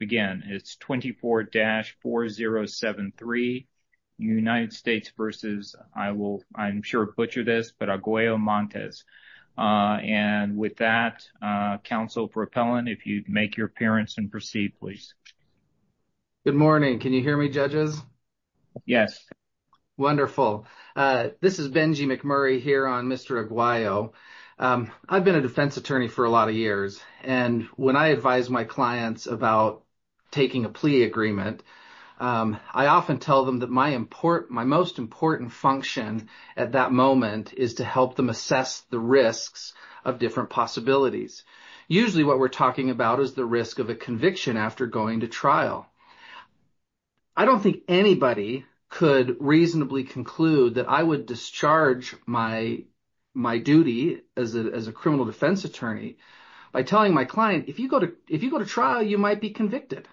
Again, it's 24-4073, United States versus, I will, I'm sure butcher this, but Aguayo-Montes. And with that, Council Propellant, if you'd make your appearance and proceed, please. Good morning. Can you hear me, judges? Yes. Wonderful. This is Benji McMurray here on Mr. Aguayo. I've been a defense attorney for a lot of years, and when I advise my clients about taking a plea agreement, I often tell them that my most important function at that moment is to help them assess the risks of different possibilities. Usually what we're talking about is the risk of a conviction after going to trial. I don't think anybody could reasonably conclude that I would discharge my duty as a criminal defense attorney by telling my client, if you go to trial, you might be convicted.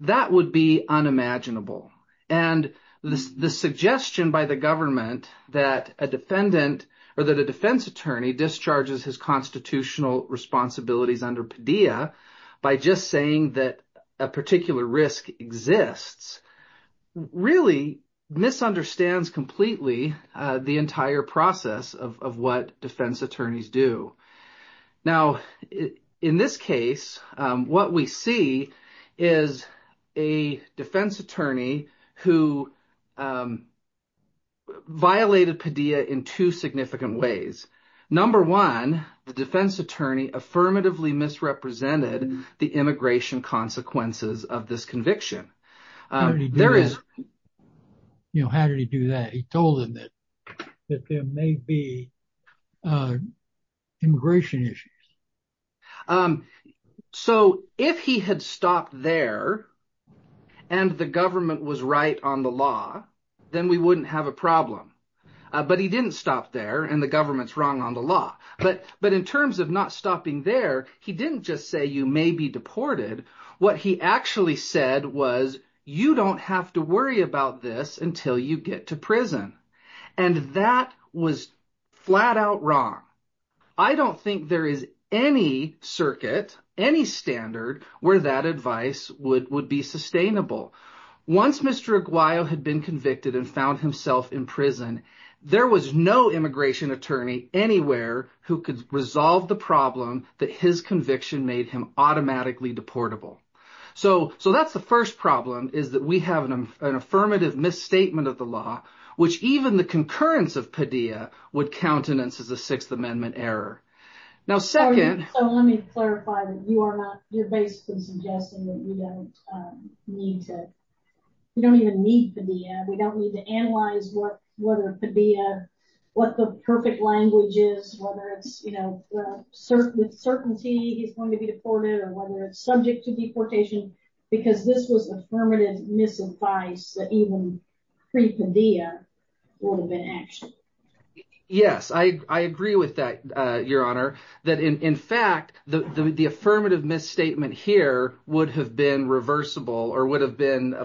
That would be unimaginable. And the suggestion by the government that a defendant or that a defense attorney discharges his constitutional responsibilities under PDEA by just saying that a particular risk exists really misunderstands completely the entire process of what defense attorneys do. Now, in this case, what we see is a defense attorney who violated PDEA in two significant ways. Number one, the defense attorney affirmatively misrepresented the immigration consequences of this conviction. How did he do that? He told them that there may be immigration issues. So if he had stopped there and the government was right on the law, then we wouldn't have a problem. But he didn't stop there and the government's wrong on the law. But in terms of not stopping there, he didn't just say you may be deported. What he actually said was you don't have to worry about this until you get to prison. And that was flat out wrong. I don't think there is any circuit, any standard where that advice would be sustainable. Once Mr. Aguayo had been convicted and found himself in prison, there was no immigration attorney anywhere who could resolve the problem that his conviction made him automatically deportable. So that's the first problem is that we have an affirmative misstatement of the law, which even the concurrence of PDEA would countenance as a Sixth Amendment error. So let me clarify that you're basically suggesting that we don't even need PDEA. We don't need to analyze whether PDEA, what the perfect language is, whether it's with certainty he's going to be deported or whether it's subject to deportation because this was affirmative misadvice that even pre-PDEA would have been actionable. Yes, I agree with that, Your Honor, that in fact, the affirmative misstatement here would have been reversible or would have been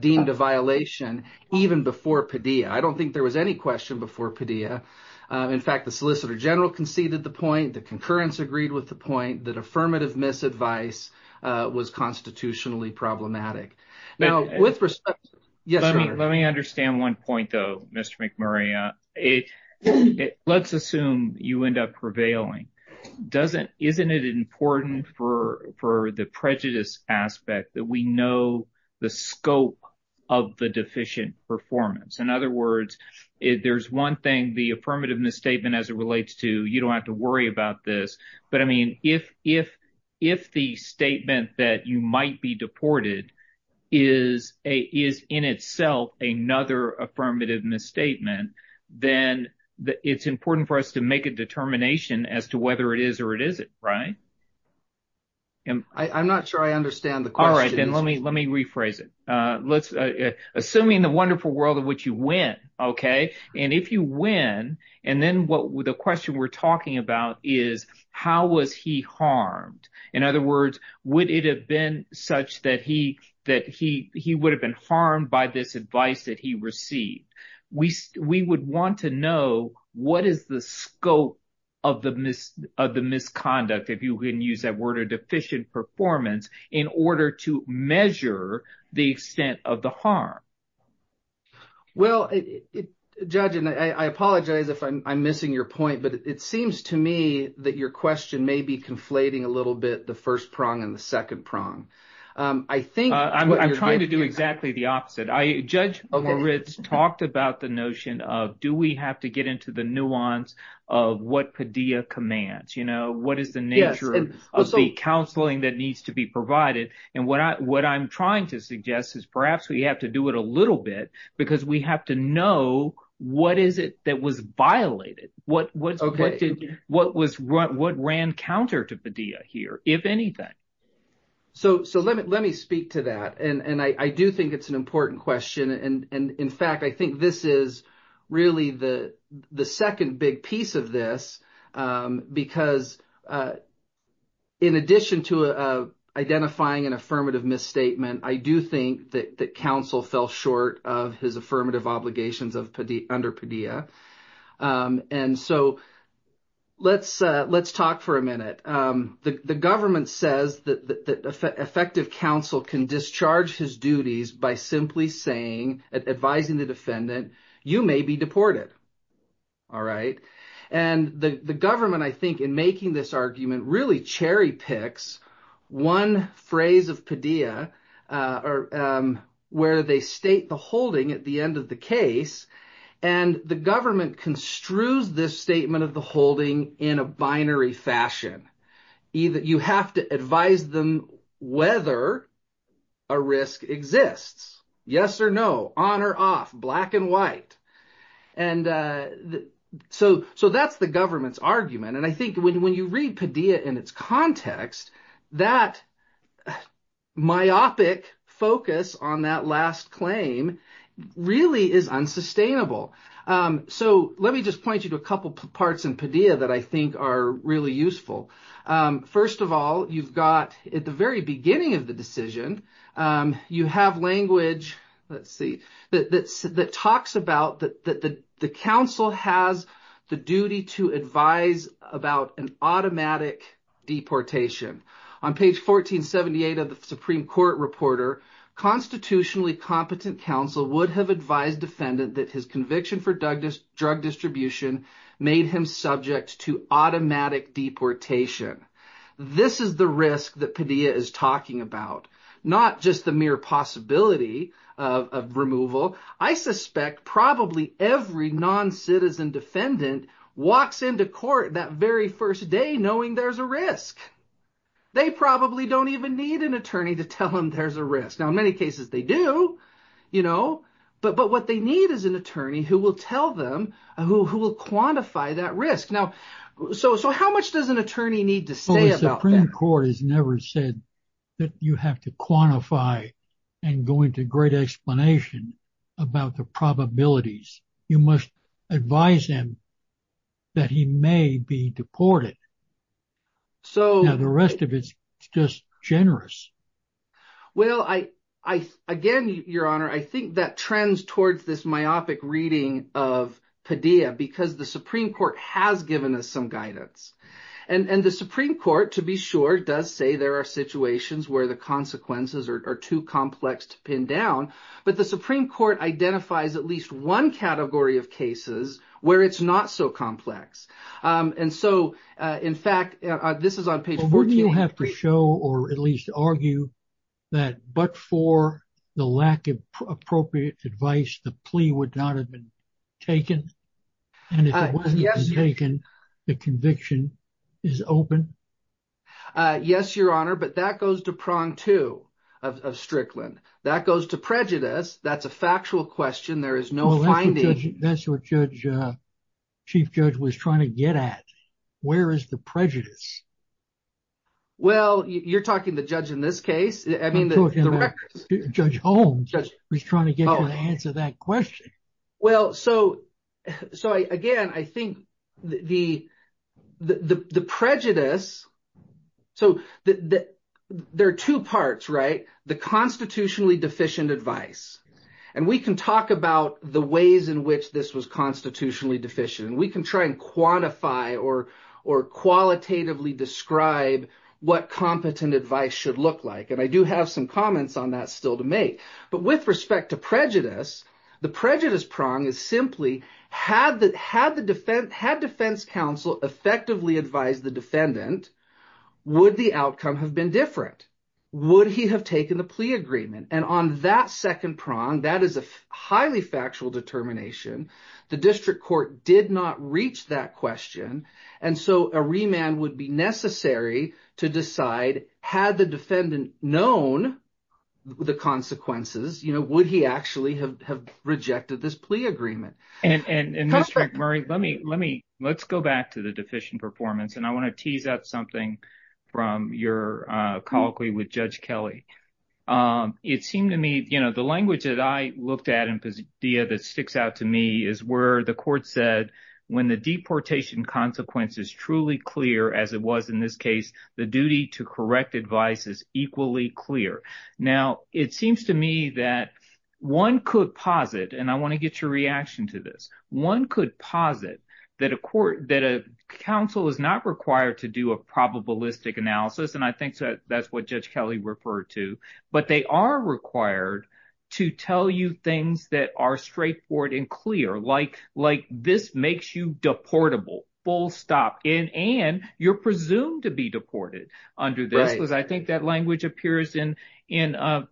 deemed a violation even before PDEA. I don't think there was any question before PDEA. In fact, the Solicitor General conceded the point, the concurrence agreed with the point that affirmative misadvice was constitutionally problematic. Now, with respect, yes, Your Honor. Let me understand one point, though, Mr. McMurray. Let's assume you end up prevailing. Isn't it important for the prejudice aspect that we know the scope of the deficient performance? In other words, there's one thing the affirmative misstatement as it relates to, you don't have to worry about this, but I mean, if the statement that you might be deported is in itself another affirmative misstatement, then it's important for us to make a determination as to whether it is or it isn't, right? I'm not sure I understand the question. All right, then let me rephrase it. Assuming the wonderful world of which you win, okay, and if you win, and then the question we're talking about is how was he harmed? In other words, would it have been such that he would have been harmed by this advice that he received? We would want to know what is the scope of the misconduct, if you can use that word, deficient performance in order to measure the extent of the harm. Well, Judge, and I apologize if I'm missing your point, but it seems to me that your question may be conflating a little bit the first prong and the second prong. I think- I'm trying to do exactly the opposite. Judge Moritz talked about the notion of do we have to get into the nuance of what Padilla commands? What is the nature of the counseling that needs to be provided? And what I'm trying to suggest is perhaps we have to do it a little bit because we have to know what is it that was violated? What ran counter to Padilla here, if anything? So let me speak to that. And I do think it's an important question. And in fact, I think this is really the second big piece of this because in addition to identifying an affirmative misstatement, I do think that counsel fell short of his affirmative obligations under Padilla. And so let's talk for a minute. The government says that effective counsel can discharge his by simply saying, advising the defendant, you may be deported. All right? And the government, I think, in making this argument really cherry picks one phrase of Padilla where they state the holding at the end of the case. And the government construes this statement of the holding in a binary fashion. You have to advise them whether a risk exists, yes or no, on or off, black and white. And so that's the government's argument. And I think when you read Padilla in its context, that myopic focus on that last claim really is unsustainable. So let me just point you a couple parts in Padilla that I think are really useful. First of all, you've got at the very beginning of the decision, you have language, let's see, that talks about that the counsel has the duty to advise about an automatic deportation. On page 1478 of the Supreme Court reporter, constitutionally competent counsel would have advised defendant that his conviction for drug distribution made him subject to automatic deportation. This is the risk that Padilla is talking about, not just the mere possibility of removal. I suspect probably every non-citizen defendant walks into court that very first day knowing there's a risk. They probably don't even need an attorney to tell them there's a risk. Now, in many cases they do, but what they need an attorney who will tell them, who will quantify that risk. Now, so how much does an attorney need to say about that? The Supreme Court has never said that you have to quantify and go into great explanation about the probabilities. You must advise him that he may be deported. Now the rest of it's just generous. Well, again, Your Honor, I think that trends towards this myopic reading of Padilla because the Supreme Court has given us some guidance. The Supreme Court, to be sure, does say there are situations where the consequences are too complex to pin down, but the Supreme Court identifies at least one category of cases where it's not so complex. And so, in fact, this is on page 14. Well, wouldn't you have to show or at least argue that but for the lack of appropriate advice, the plea would not have been taken? And if it wasn't taken, the conviction is open? Yes, Your Honor, but that goes to prong two of Strickland. That goes to prejudice. That's a factual question. There is no finding. That's what Chief Judge was trying to get at. Where is the prejudice? Well, you're talking the judge in this case. I mean, the records. Judge Holmes was trying to get you to answer that question. Well, so, again, I think the prejudice, so there are two parts, right? The constitutionally deficient advice, and we can talk about the ways in which this was constitutionally deficient. We can try and quantify or qualitatively describe what competent advice should look like, and I do have some comments on that still to make. But with respect to prejudice, the prejudice prong is simply had the defense counsel effectively advised the defendant, would the outcome have been different? Would he have taken the plea agreement? And on that second prong, that is a highly factual determination. The district court did not reach that question. And so a remand would be necessary to decide had the defendant known the consequences, would he actually have rejected this plea agreement? And Mr. Murray, let's go back to deficient performance, and I want to tease out something from your colloquy with Judge Kelly. It seemed to me, you know, the language that I looked at and the idea that sticks out to me is where the court said, when the deportation consequence is truly clear, as it was in this case, the duty to correct advice is equally clear. Now, it seems to me that one could posit, and I want to get your reaction to this, one could posit that a counsel is not required to do a probabilistic analysis, and I think that that's what Judge Kelly referred to, but they are required to tell you things that are straightforward and clear, like this makes you deportable, full stop, and you're presumed to be deported under this, because I think that appears in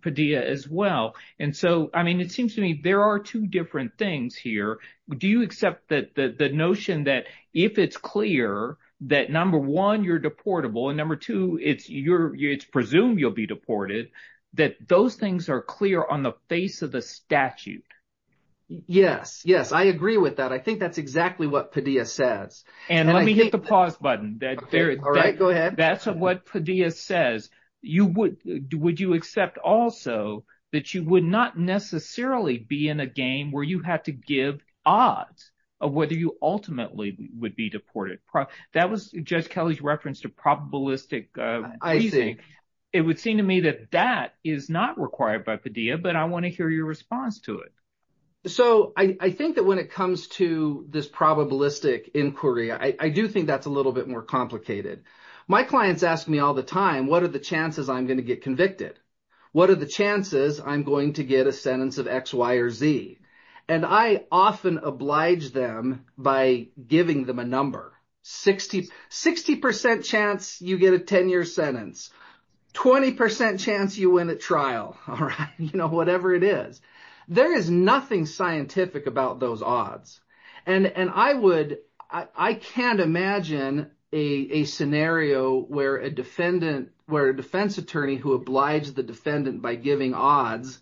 Padilla as well. And so, I mean, it seems to me there are two different things here. Do you accept that the notion that if it's clear that, number one, you're deportable, and number two, it's presumed you'll be deported, that those things are clear on the face of the statute? Yes, yes, I agree with that. I think that's exactly what Padilla says. And let me hit the pause button. All right, go ahead. That's what Padilla says. Would you accept also that you would not necessarily be in a game where you have to give odds of whether you ultimately would be deported? That was Judge Kelly's reference to probabilistic reasoning. It would seem to me that that is not required by Padilla, but I want to hear your response to it. So, I think that when it comes to this probabilistic inquiry, I do think that's a little bit more complicated. My clients ask me all the time, what are the chances I'm going to get convicted? What are the chances I'm going to get a sentence of X, Y, or Z? And I often oblige them by giving them a number. 60% chance you get a 10-year sentence. 20% chance you win a trial. All right, I can't imagine a scenario where a defense attorney who obliged the defendant by giving odds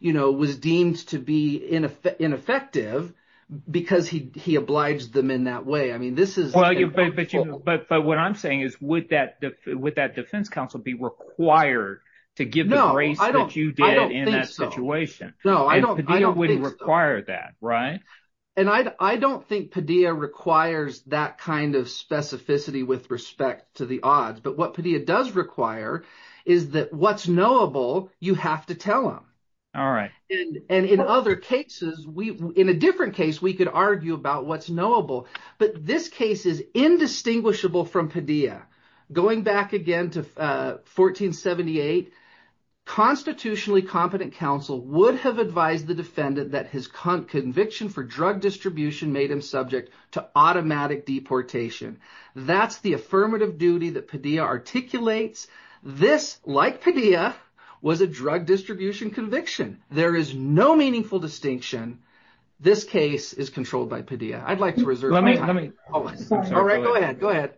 was deemed to be ineffective because he obliged them in that way. I mean, this is- But what I'm saying is, would that defense counsel be required to give the grace that you did in that situation? No, I don't think so. No, I don't think so. Padilla wouldn't require that, right? And I don't think Padilla requires that kind of specificity with respect to the odds, but what Padilla does require is that what's knowable, you have to tell them. All right. And in other cases, in a different case, we could argue about what's knowable, but this case is indistinguishable from Padilla. Going back again to 1478, constitutionally competent counsel would have advised the defendant that his conviction for drug distribution made him subject to automatic deportation. That's the affirmative duty that Padilla articulates. This, like Padilla, was a drug distribution conviction. There is no meaningful distinction. This case is controlled by Padilla. I'd like to reserve my time. Let me- All right, go ahead. Go ahead.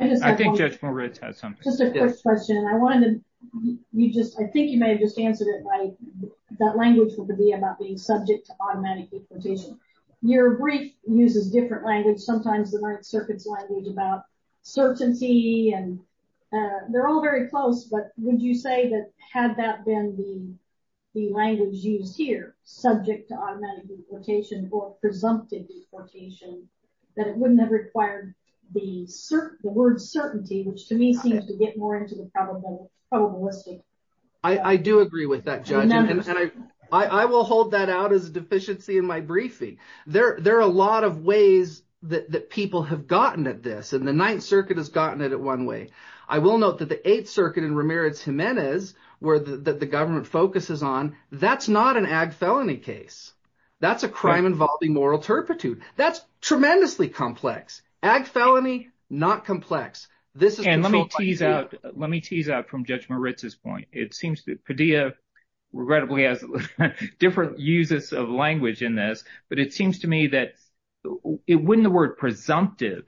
I think Judge Moritz had something. Just a quick question. I wanted to- That language would be about being subject to automatic deportation. Your brief uses different language. Sometimes the Ninth Circuit's language about certainty, and they're all very close, but would you say that had that been the language used here, subject to automatic deportation or presumptive deportation, that it wouldn't have required the word certainty, which to me seems to get more probabilistic? I do agree with that, Judge. I will hold that out as a deficiency in my briefing. There are a lot of ways that people have gotten at this, and the Ninth Circuit has gotten it at one way. I will note that the Eighth Circuit in Ramirez-Jimenez, where the government focuses on, that's not an ag felony case. That's a crime involving moral turpitude. That's tremendously complex. Ag felony, not complex. And let me tease out from Judge Moritz's point. It seems that Padilla regrettably has different uses of language in this, but it seems to me that wouldn't the word presumptively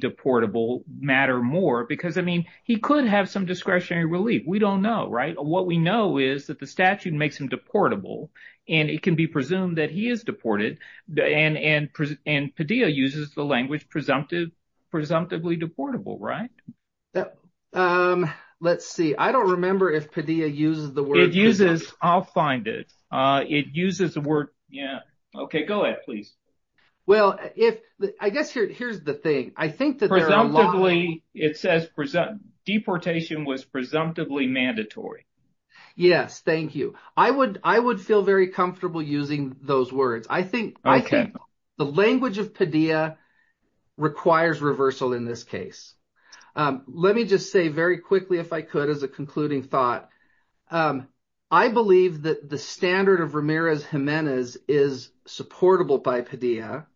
deportable matter more? Because he could have some discretionary relief. We don't know, right? What we know is that the statute makes him deportable, and it can be presumed that he is right? Let's see. I don't remember if Padilla uses the word- It uses. I'll find it. It uses the word. Yeah. Okay. Go ahead, please. Well, I guess here's the thing. I think that there are a lot- It says deportation was presumptively mandatory. Yes. Thank you. I would feel very comfortable using those words. I think the language of Padilla requires reversal in this case. Let me just say very quickly, if I could, as a concluding thought, I believe that the standard of Ramirez-Gimenez is supportable by Padilla.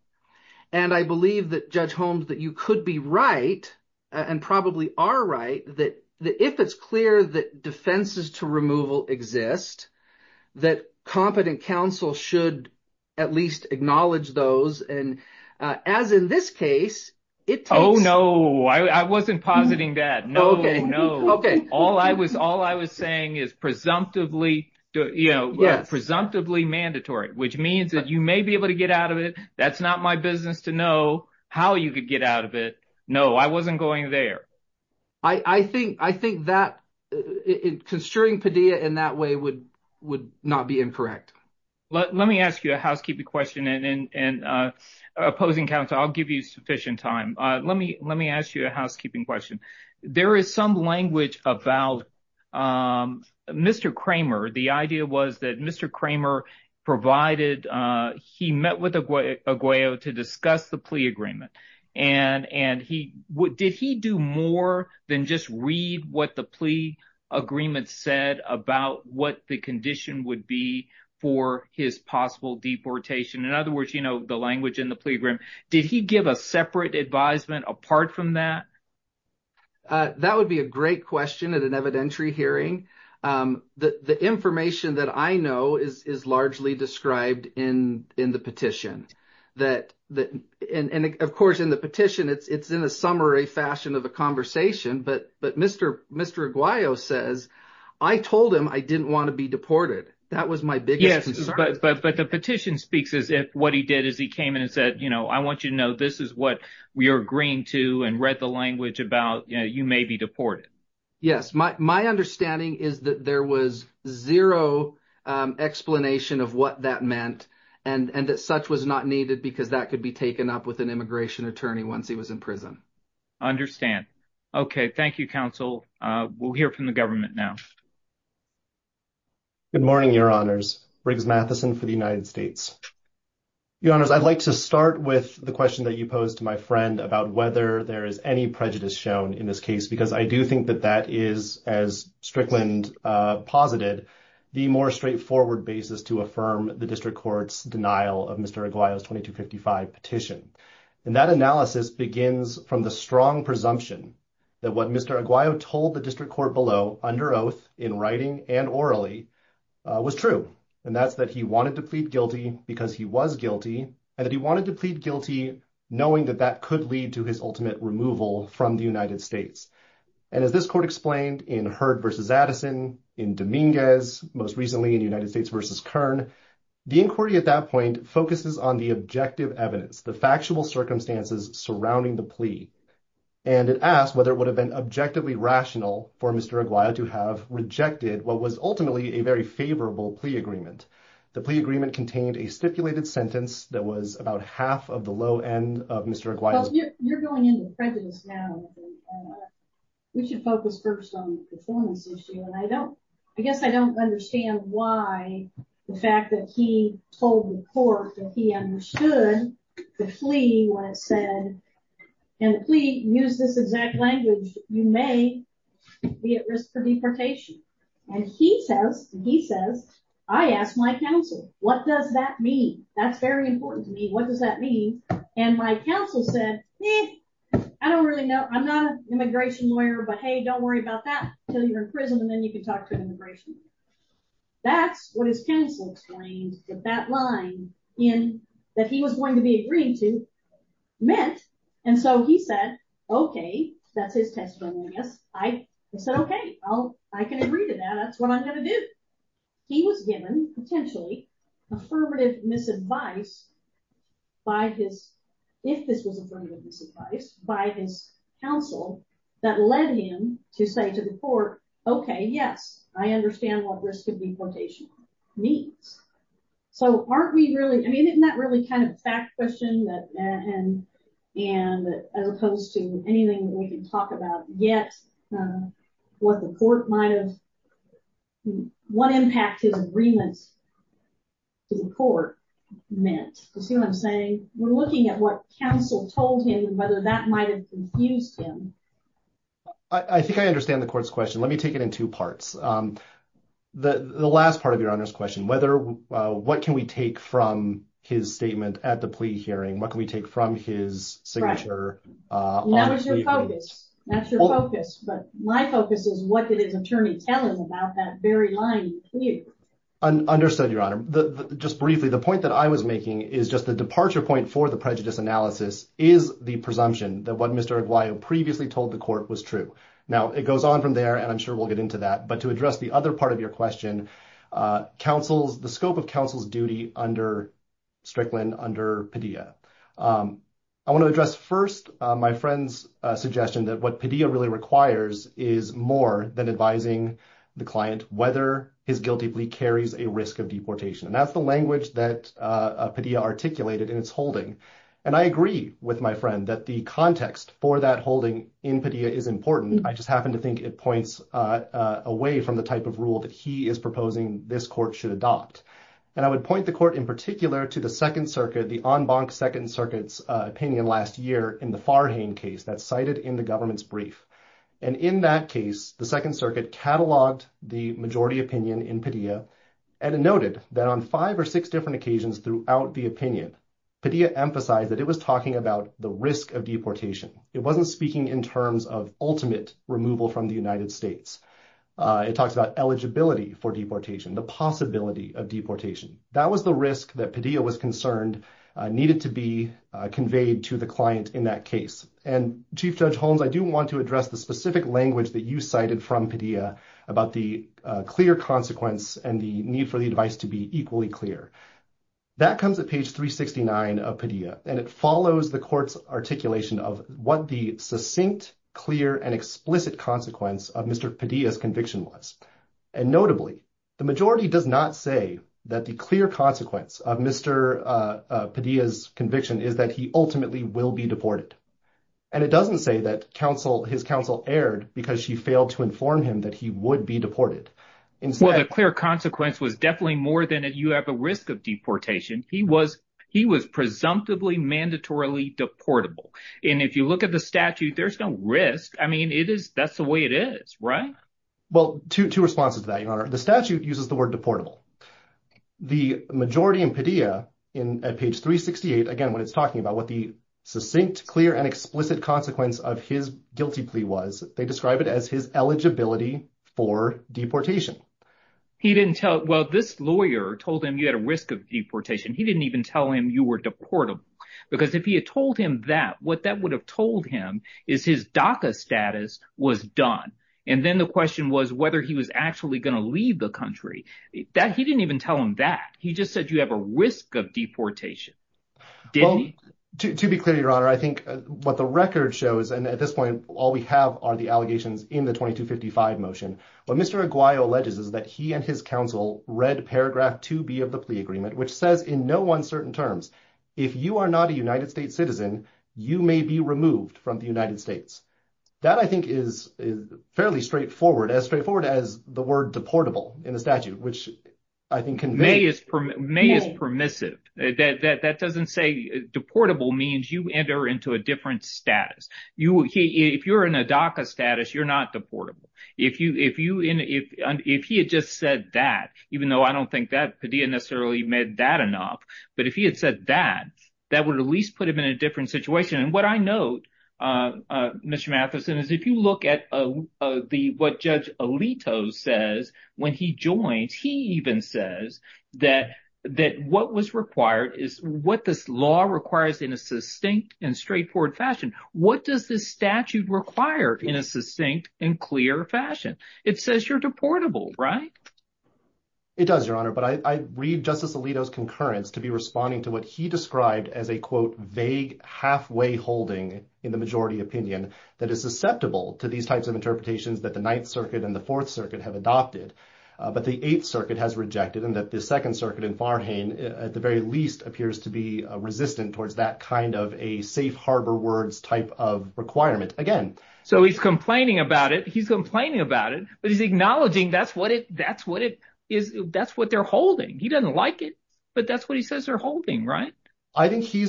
And I believe that Judge Holmes, that you could be right, and probably are right, that if it's clear that defenses to removal exist, that competent counsel should at least acknowledge those. As in this case, it takes- Oh, no. I wasn't positing that. No, no. Okay. All I was saying is presumptively mandatory, which means that you may be able to get out of it. That's not my business to know how you could get out of it. No, I wasn't going there. I think that construing Padilla in that way would not be incorrect. Let me ask you a housekeeping question. And opposing counsel, I'll give you sufficient time. Let me ask you a housekeeping question. There is some language about Mr. Kramer. The idea was that Mr. Kramer provided, he met with Aguayo to discuss the plea agreement. And did he do more than just read what the plea agreement said about what the condition would be for his possible deportation? In other words, the language in the plea agreement, did he give a separate advisement apart from that? That would be a great question at an evidentiary hearing. The information that I know is largely described in the petition. And of course, in the petition, it's in a summary fashion of a conversation. But Mr. Aguayo says, I told him I didn't want to be deported. That was my biggest concern. But the petition speaks as if what he did is he came in and said, I want you to know, this is what we are agreeing to and read the language about, you may be deported. Yes. My understanding is that there was zero explanation of what that meant and that such was not needed because that could be taken up with an immigration attorney once he was in prison. Understand. Okay. Thank you, counsel. We'll hear from the government now. Good morning, your honors. Riggs Matheson for the United States. Your honors, I'd like to start with the question that you posed to my friend about whether there is any prejudice shown in this case, because I do think that that is, as Strickland posited, the more straightforward basis to affirm the district court's denial of Mr. Aguayo's 2255 petition. And that analysis begins from the strong presumption that what Mr. Aguayo told the district court below under oath in writing and orally was true. And that's that he wanted to plead guilty because he was guilty and that he wanted to plead guilty knowing that that could lead to his ultimate removal from the United States. And as this court explained in Heard versus Addison, in Dominguez, most recently in United States versus Kern, the inquiry at that focuses on the objective evidence, the factual circumstances surrounding the plea. And it asked whether it would have been objectively rational for Mr. Aguayo to have rejected what was ultimately a very favorable plea agreement. The plea agreement contained a stipulated sentence that was about half of the low end of Mr. Aguayo. You're going into prejudice now. We should focus first on the performance issue. And I don't, I guess I don't understand why the fact that he told the court that he understood the plea when it said, and the plea used this exact language, you may be at risk for deportation. And he says, he says, I asked my counsel, what does that mean? That's very important to me. What does that mean? And my counsel said, I don't really know. I'm not an immigration lawyer, but hey, don't worry about that until you're in prison. And then you can talk to an immigration lawyer. That's what his counsel explained that that line in that he was going to be agreeing to meant. And so he said, okay, that's his testimony. I guess I said, okay, well, I can agree to that. That's what I'm going to do. He was given potentially affirmative misadvice by his, if this was affirmative misadvice by his counsel, that led him to say to the court, okay, yes, I understand what risk of deportation means. So aren't we really I mean, isn't that really kind of fact question that and, and as opposed to anything that we can talk about yet, what the court might have, what impact his agreements to the court meant. You see what I'm saying? We're looking at what counsel told him and whether that might've confused him. I think I understand the court's question. Let me take it in two parts. The last part of your honor's question, whether, what can we take from his statement at the plea hearing? What can we take from his signature? That was your focus. That's your focus. But my focus is what did his attorney tell him about that very line? Understood your honor. Just briefly, the point that I was making is just the departure point for the prejudice analysis is the presumption that what Mr. Aguayo previously told the court was true. Now it goes on from there, and I'm sure we'll get into that, but to address the other part of your question, counsel's, the scope of counsel's duty under Strickland, under Padilla. I want to address first my friend's suggestion that what Padilla really requires is more than advising the client, whether his guilty plea carries a risk of deportation. And that's the And I agree with my friend that the context for that holding in Padilla is important. I just happen to think it points away from the type of rule that he is proposing this court should adopt. And I would point the court in particular to the second circuit, the en banc second circuit's opinion last year in the Farhane case that's cited in the government's brief. And in that case, the second circuit cataloged the majority opinion in Padilla and it noted that on five or six different occasions throughout the opinion, Padilla emphasized that it was talking about the risk of deportation. It wasn't speaking in terms of ultimate removal from the United States. It talks about eligibility for deportation, the possibility of deportation. That was the risk that Padilla was concerned needed to be conveyed to the client in that case. And Chief Judge Holmes, I do want to address the specific language that you cited from Padilla about the clear consequence and the need for the advice to be equally clear. That comes at page 369 of Padilla and it follows the court's articulation of what the succinct, clear and explicit consequence of Mr. Padilla's conviction was. And notably, the majority does not say that the clear consequence of Mr. Padilla's conviction is that he ultimately will be deported. And it doesn't say that his counsel erred because she failed to inform him that he would be deported. Well, the clear consequence was definitely more than you have a risk of deportation. He was presumptively mandatorily deportable. And if you look at the statute, there's no risk. I mean, that's the way it is, right? Well, two responses to that, Your Honor. The statute uses the word deportable. The majority in Padilla at page 368, again, is talking about what the succinct, clear and explicit consequence of his guilty plea was. They describe it as his eligibility for deportation. He didn't tell, well, this lawyer told him you had a risk of deportation. He didn't even tell him you were deportable. Because if he had told him that, what that would have told him is his DACA status was done. And then the question was whether he was actually going to leave the country. He didn't even tell him that. He just said you have a risk of deportation. To be clear, Your Honor, I think what the record shows, and at this point, all we have are the allegations in the 2255 motion. What Mr. Aguayo alleges is that he and his counsel read paragraph 2B of the plea agreement, which says in no uncertain terms, if you are not a United States citizen, you may be removed from the United States. That I think is fairly straightforward, as straightforward as the word deportable in the permissive. That doesn't say deportable means you enter into a different status. If you're in a DACA status, you're not deportable. If he had just said that, even though I don't think that Padilla necessarily meant that enough, but if he had said that, that would at least put him in a different situation. And what I note, Mr. Matheson, is if you look at what Judge Alito says when he joins, he even says that what was required is what this law requires in a succinct and straightforward fashion. What does this statute require in a succinct and clear fashion? It says you're deportable, right? It does, Your Honor, but I read Justice Alito's concurrence to be responding to what he described as a, quote, vague halfway holding in the majority opinion that is susceptible to these types of interpretations that the Ninth Circuit and the Fourth Circuit have adopted, but the Eighth Circuit has rejected and that the Second Circuit in Farhain, at the very least, appears to be resistant towards that kind of a safe harbor words type of requirement. Again- So he's complaining about it. He's complaining about it, but he's acknowledging that's what they're holding. He doesn't like it, but that's what he says they're holding, right? I think he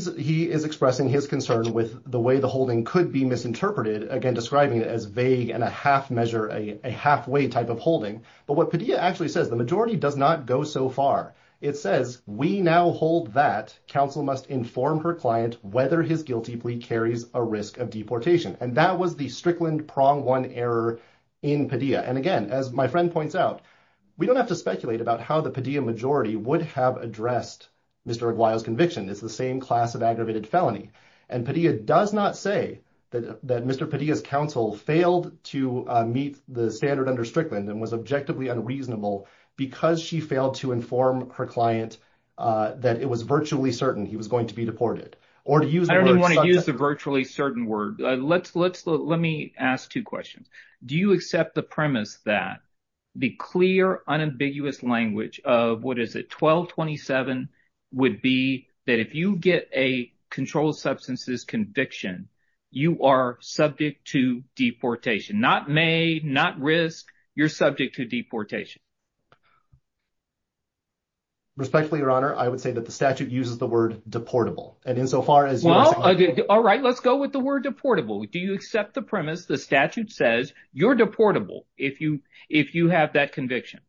is expressing his concern with the way the holding could be misinterpreted. Again, describing it as vague and a half measure, a halfway type of holding, but what Padilla actually says, the majority does not go so far. It says, we now hold that counsel must inform her client whether his guilty plea carries a risk of deportation, and that was the Strickland prong one error in Padilla, and again, as my friend points out, we don't have to speculate about how the Padilla majority would have addressed Mr. Aguayo's conviction. It's the same class of aggravated felony, and Padilla does not say that Mr. Padilla's counsel failed to meet the standard under Strickland and was objectively unreasonable because she failed to inform her client that it was virtually certain he was going to be deported, or to use the word- I don't even want to use the virtually certain word. Let me ask two questions. Do you accept the premise that the clear, unambiguous language of, what is it, 1227 would be that if you get a controlled substances conviction, you are subject to deportation, not made, not risk, you're subject to deportation? Respectfully, your honor, I would say that the statute uses the word deportable, and insofar as- Well, all right, let's go with the word deportable. Do you accept the premise the statute says you're deportable if you have that conviction?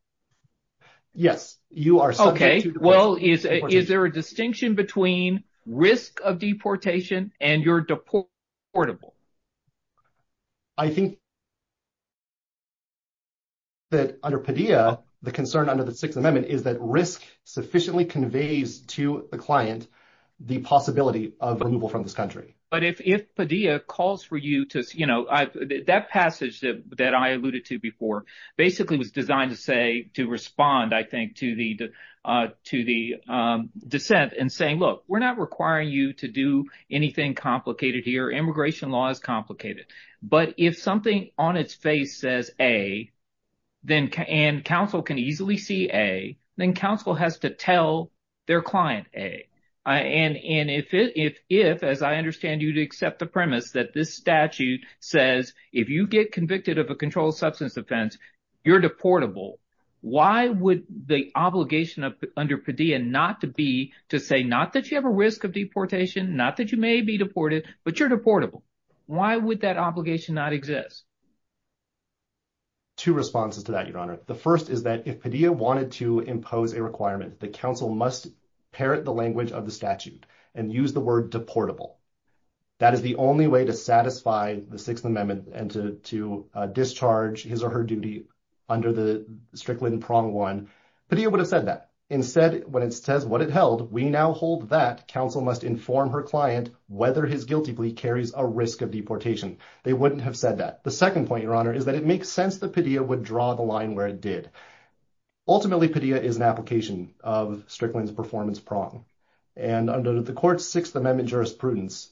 Yes, you are subject to- Okay, well, is there a distinction between risk of deportation and you're deportable? I think that under Padilla, the concern under the Sixth Amendment is that risk sufficiently conveys to the client the possibility of removal from this country. But if Padilla calls for you to- That passage that I alluded to before basically was designed to say, to respond, I think, to the dissent and saying, look, we're not requiring you to do anything complicated here. Immigration law is complicated. But if something on its face says A, and counsel can easily see A, then counsel has to tell their client A. And if, as I understand you to accept the premise that this statute says, if you get convicted of a controlled substance offense, you're deportable, why would the obligation under Padilla not to be to say, not that you have a risk of deportation, not that you may be deported, but you're deportable? Why would that obligation not exist? Two responses to that, Your Honor. The first is that if Padilla wanted to impose a requirement, the counsel must parrot the language of the statute and use the word deportable. That is the only way to satisfy the Sixth Amendment and to discharge his or her duty under the Strickland Prong one. Padilla would have said that. Instead, when it says what it held, we now hold that counsel must inform her client whether his guilty plea carries a risk of deportation. They wouldn't have said that. The second point, Your Honor, is that it makes sense that Padilla would draw the line where it did. Ultimately, Padilla is an application of Strickland's jurisprudence.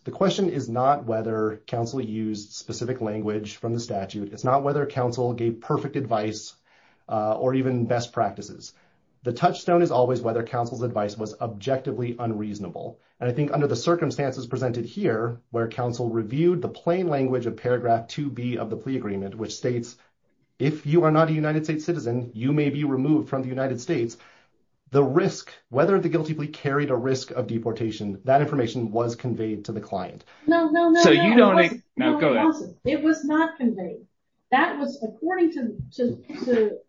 The question is not whether counsel used specific language from the statute. It's not whether counsel gave perfect advice or even best practices. The touchstone is always whether counsel's advice was objectively unreasonable. I think under the circumstances presented here, where counsel reviewed the plain language of paragraph 2B of the plea agreement, which states, if you are not a United States citizen, you may be removed from the United States, the risk, whether the guilty plea carried a risk of deportation, that information was conveyed to the client. No, no, no. So you don't... No, go ahead. It was not conveyed. That was according to Mr.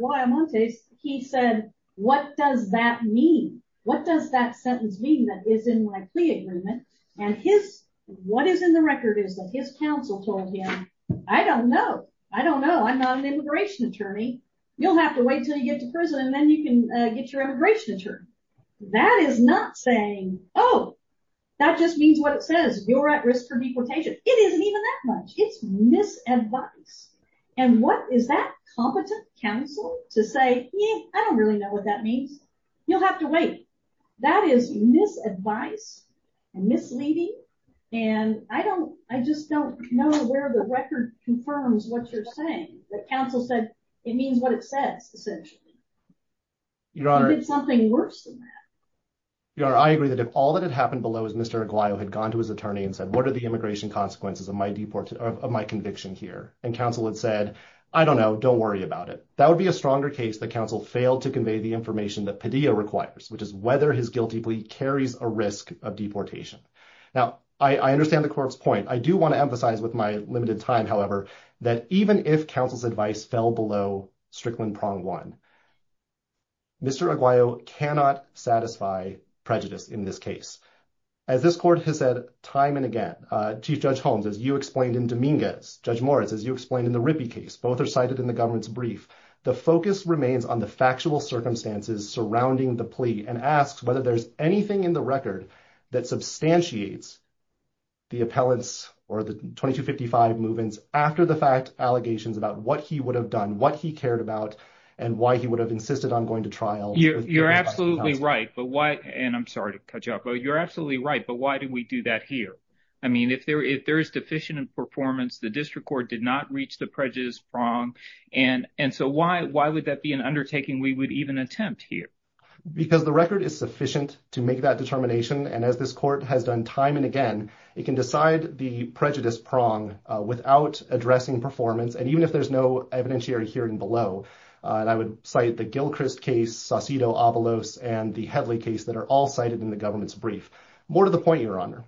Guayamontes. He said, what does that mean? What does that sentence mean that is in my plea agreement? And his, what is in the record is that his counsel told him, I don't know. I don't know. I'm not an immigration attorney. You'll have to wait until you get to prison and then you can get your immigration attorney. That is not saying, oh, that just means what it says. You're at risk for deportation. It isn't even that much. It's misadvice. And what is that competent counsel to say? I don't really know what that means. You'll have to wait. That is misadvice and misleading. And I just don't know where the record confirms what you're saying, that counsel said, it means what it says, essentially. You did something worse than that. Your Honor, I agree that if all that had happened below is Mr. Aguayo had gone to his attorney and said, what are the immigration consequences of my conviction here? And counsel had said, I don't know. Don't worry about it. That would be a stronger case that counsel failed to convey the information that Padilla requires, which is whether his guilty plea carries a risk of deportation. Now, I understand the court's point. I do want to emphasize with my limited time, however, that even if counsel's advice fell below Strickland Prong One, Mr. Aguayo cannot satisfy prejudice in this case. As this court has said time and again, Chief Judge Holmes, as you explained in Dominguez, Judge Morris, as you explained in the Rippey case, both are cited in the government's brief. The focus remains on the factual circumstances surrounding the plea and asks whether there's anything in the record that substantiates the appellant's or the 2255 move-ins after the fact allegations about what he would have done, what he cared about, and why he would have insisted on going to trial. You're absolutely right. And I'm sorry to cut you off, but you're absolutely right. But why did we do that here? I mean, if there is deficient in performance, the district court did not reach the prejudice prong. And so why would that be an undertaking we would even attempt here? Because the record is sufficient to make that determination. And as this court has done time and again, it can decide the prejudice prong without addressing performance. And even if there's no evidentiary hearing below, and I would cite the Gilchrist case, Saucedo-Avalos, and the Headley case that are all cited in the government's brief. More to the point, Your Honor.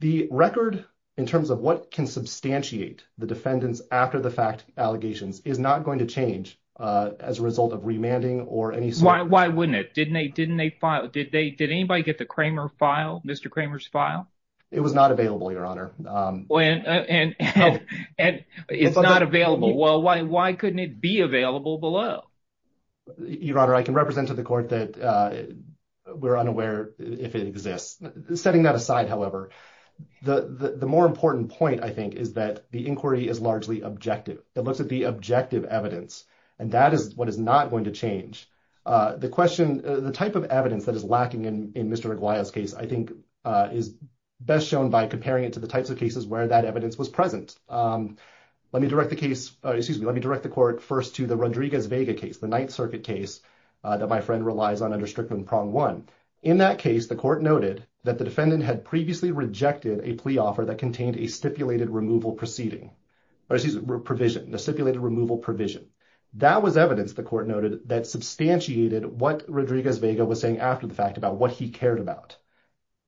The record, in terms of what can substantiate the defendant's after the fact allegations, is not going to change as a result of remanding or any sort of- Why wouldn't it? Didn't they file? Did anybody get the Kramer file, Mr. Kramer's file? It was not available, Your Honor. And it's not available. Well, why couldn't it be available below? Your Honor, I can represent to the court that we're unaware if it exists. Setting that aside, however, the more important point, I think, is that the inquiry is largely objective. It looks at the objective evidence, and that is what is not going to change. The question, the type of evidence that is lacking in Mr. Reguia's case, I think, is best shown by comparing it to the types of cases where that evidence was present. Let me direct the case, excuse me, let me direct the court first to the Rodriguez-Vega case, the Ninth Circuit case that my friend relies on under Strickland Prong 1. In that case, the court noted that the defendant had previously rejected a plea offer that contained a stipulated removal proceeding, or excuse me, provision, a stipulated removal provision. That was evidence, the court noted, that substantiated what Rodriguez-Vega was saying after the fact about what he cared about.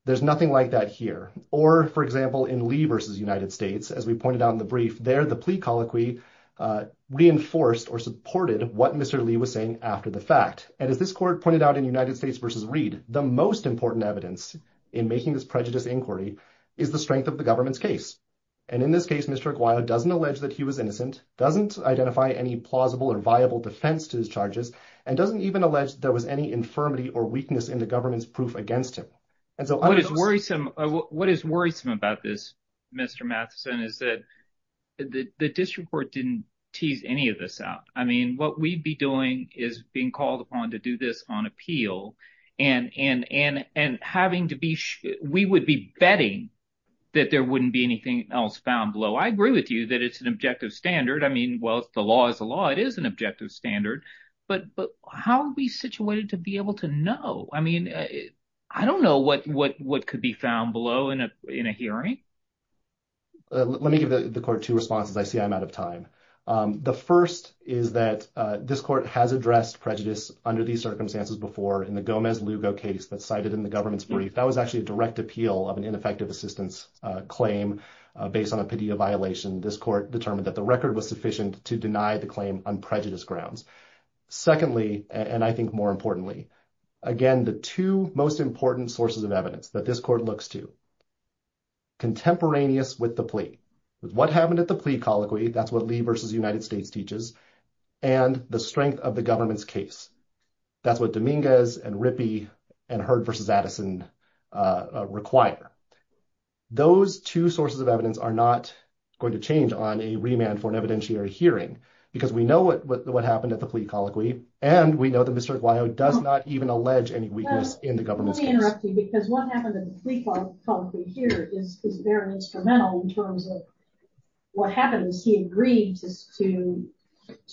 There's nothing like that here. Or, for example, in Lee versus United States, as we pointed out in the brief, there the plea colloquy reinforced or supported what Mr. Lee was saying after the fact. And as this court pointed out in United States versus Reed, the most important evidence in making this prejudice inquiry is the strength of the government's case. And in this case, Mr. Aguilar doesn't allege that he was innocent, doesn't identify any plausible or viable defense to his charges, and doesn't even allege there was any infirmity or weakness in the government's proof against him. And so what is worrisome about this, Mr. Matheson, is that the district court didn't tease any of this out. I mean, what we'd be doing is being called upon to do this on appeal, and we would be betting that there wouldn't be anything else found below. I agree with you that it's an objective standard. I mean, well, the law is the law. It is an objective standard. But how are we situated to be able to know? I mean, I don't know what could be found below in a hearing. Let me give the court two responses. I see I'm out of time. The first is that this court has addressed prejudice under these circumstances before in the Gomez-Lugo case that's cited in the government's brief. That was actually a direct appeal of an ineffective assistance claim based on a PDA violation. This court determined that the record was sufficient to deny the claim on prejudice grounds. Secondly, and I think more importantly, again, the two most important sources of evidence that this court looks to, contemporaneous with the plea. What happened at the plea colloquy, that's what Lee versus United States teaches, and the strength of the government's case. That's what Dominguez and Rippey and Heard versus Addison require. Those two sources of evidence are not going to change on a remand for an evidentiary hearing, because we know what happened at the plea colloquy, and we know that Mr. Aguayo does not even allege any weakness in the government's case. Let me interrupt you, because what happened at the plea colloquy here is very instrumental in terms of what happens. He agrees to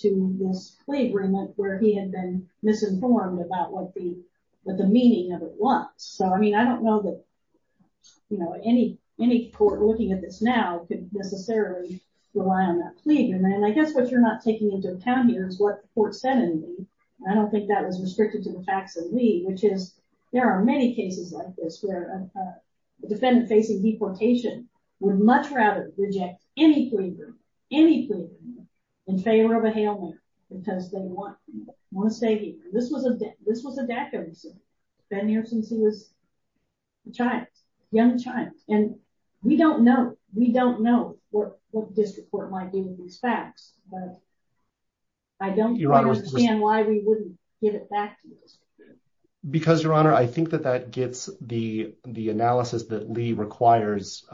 this plea agreement where he had been misinformed about what the meaning of it was. I don't know that any court looking at this now could necessarily rely on that plea agreement. I guess what you're not taking into account here is what the court said in Lee. I don't think that was restricted to the facts of Lee, which is there are many cases like this where a defendant facing deportation would much rather reject any plea agreement, any plea agreement, in favor of a hail mark because they want to stay here. This was a DACA decision. Ben Harrison was a young child, and we don't know what the district court might do with these facts, but I don't understand why we wouldn't give it back to the district court. Because, Your Honor, I think that that gets the analysis that Lee requires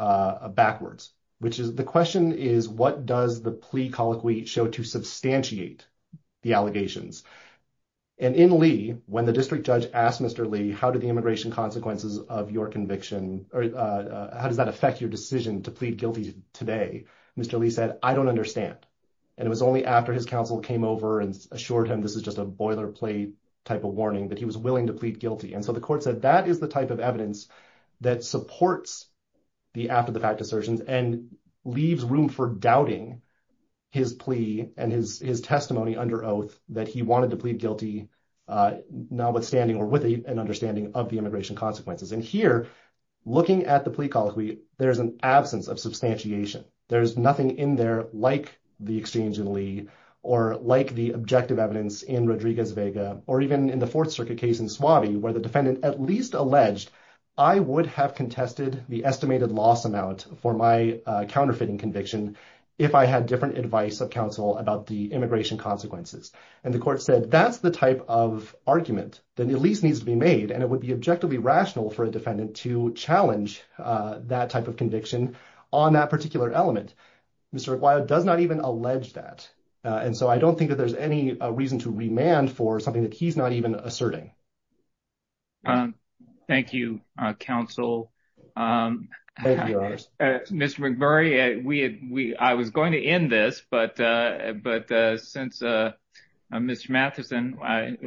backwards, which is the question is, what does the plea colloquy show to substantiate the allegations? And in Lee, when the district judge asked Mr. Lee, how did the immigration consequences of your conviction, or how does that affect your decision to plead guilty today? Mr. Lee said, I don't understand. And it was only after his counsel came over and assured him this is just a boilerplate type of warning, that he was willing to plead guilty. And so the court said, that is the type of evidence that supports the after the fact assertions and leaves room for doubting his plea and his testimony under oath that he wanted to plead guilty notwithstanding or with an understanding of the immigration consequences. And here, looking at the plea colloquy, there's an absence of substantiation. There's nothing in there like the exchange in Lee or like the objective evidence in Rodriguez-Vega or even in the Fourth Circuit case in Suave, where the defendant at least alleged, I would have contested the estimated loss amount for my counterfeiting conviction if I had different advice of counsel about the immigration consequences. And the court said, that's the type of argument that at least needs to be made. And it would be objectively rational for a defendant to challenge that type of conviction on that particular element. Mr. McGuire does not even allege that. And so I don't think that there's any reason to remand for something that he's not even asserting. Thank you, counsel. Mr. McGuire, I was going to end this, but since Mr. Matheson,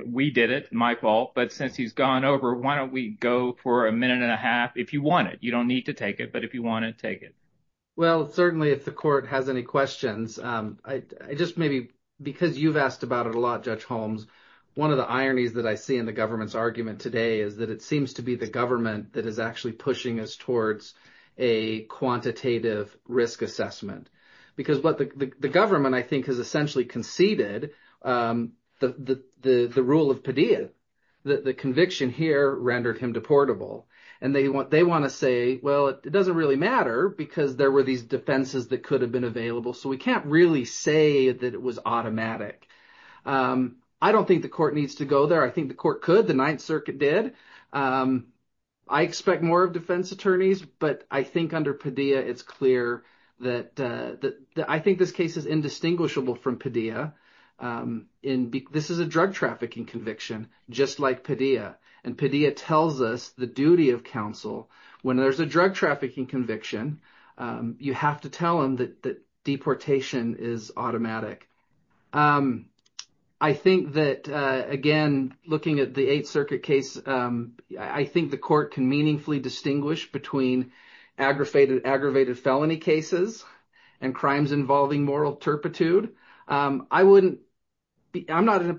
we did it, my fault. But since he's gone over, why don't we go for a minute and a half if you want it. You don't need to take it, if you want to take it. Well, certainly, if the court has any questions, just maybe because you've asked about it a lot, Judge Holmes, one of the ironies that I see in the government's argument today is that it seems to be the government that is actually pushing us towards a quantitative risk assessment. Because what the government, I think, has essentially conceded the rule of Padilla, the conviction here rendered him deportable. And they want to say, well, it doesn't really matter because there were these defenses that could have been available. So we can't really say that it was automatic. I don't think the court needs to go there. I think the court could, the Ninth Circuit did. I expect more of defense attorneys, but I think under Padilla, it's clear that... I think this case is indistinguishable from Padilla. This is a drug trafficking conviction, just like Padilla. And Padilla tells us the duty of counsel when there's a drug trafficking conviction. You have to tell them that deportation is automatic. I think that, again, looking at the Eighth Circuit case, I think the court can meaningfully distinguish between aggravated felony cases and crimes involving moral turpitude. I'm not in a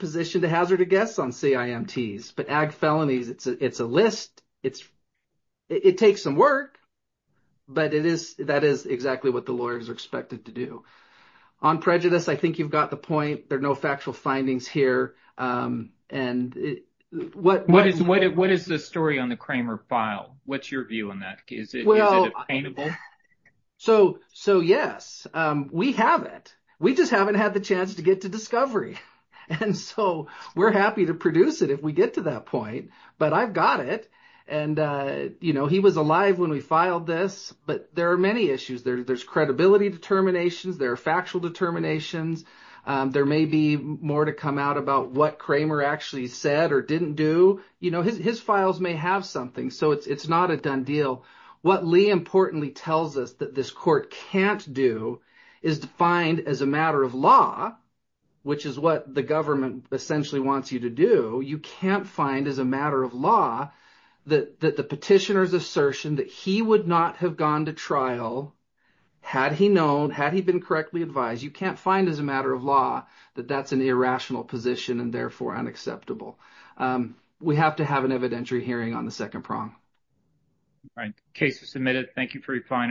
It takes some work, but that is exactly what the lawyers are expected to do. On prejudice, I think you've got the point. There are no factual findings here. What is the story on the Kramer file? What's your view on that? Is it obtainable? So yes, we have it. We just haven't had the chance to get to discovery. And so we're happy to produce it if we get to that point, but I've got it. He was alive when we filed this, but there are many issues. There's credibility determinations. There are factual determinations. There may be more to come out about what Kramer actually said or didn't do. His files may have something, so it's not a done deal. What Lee importantly tells us that this court can't do is defined as a matter of law, which is what the government essentially wants you to do. You can't find as a matter of law that the petitioner's assertion that he would not have gone to trial had he known, had he been correctly advised. You can't find as a matter of law that that's an irrational position and therefore unacceptable. We have to have an evidentiary hearing on the second prong. All right. Case is submitted. Thank you for your time. Thank you.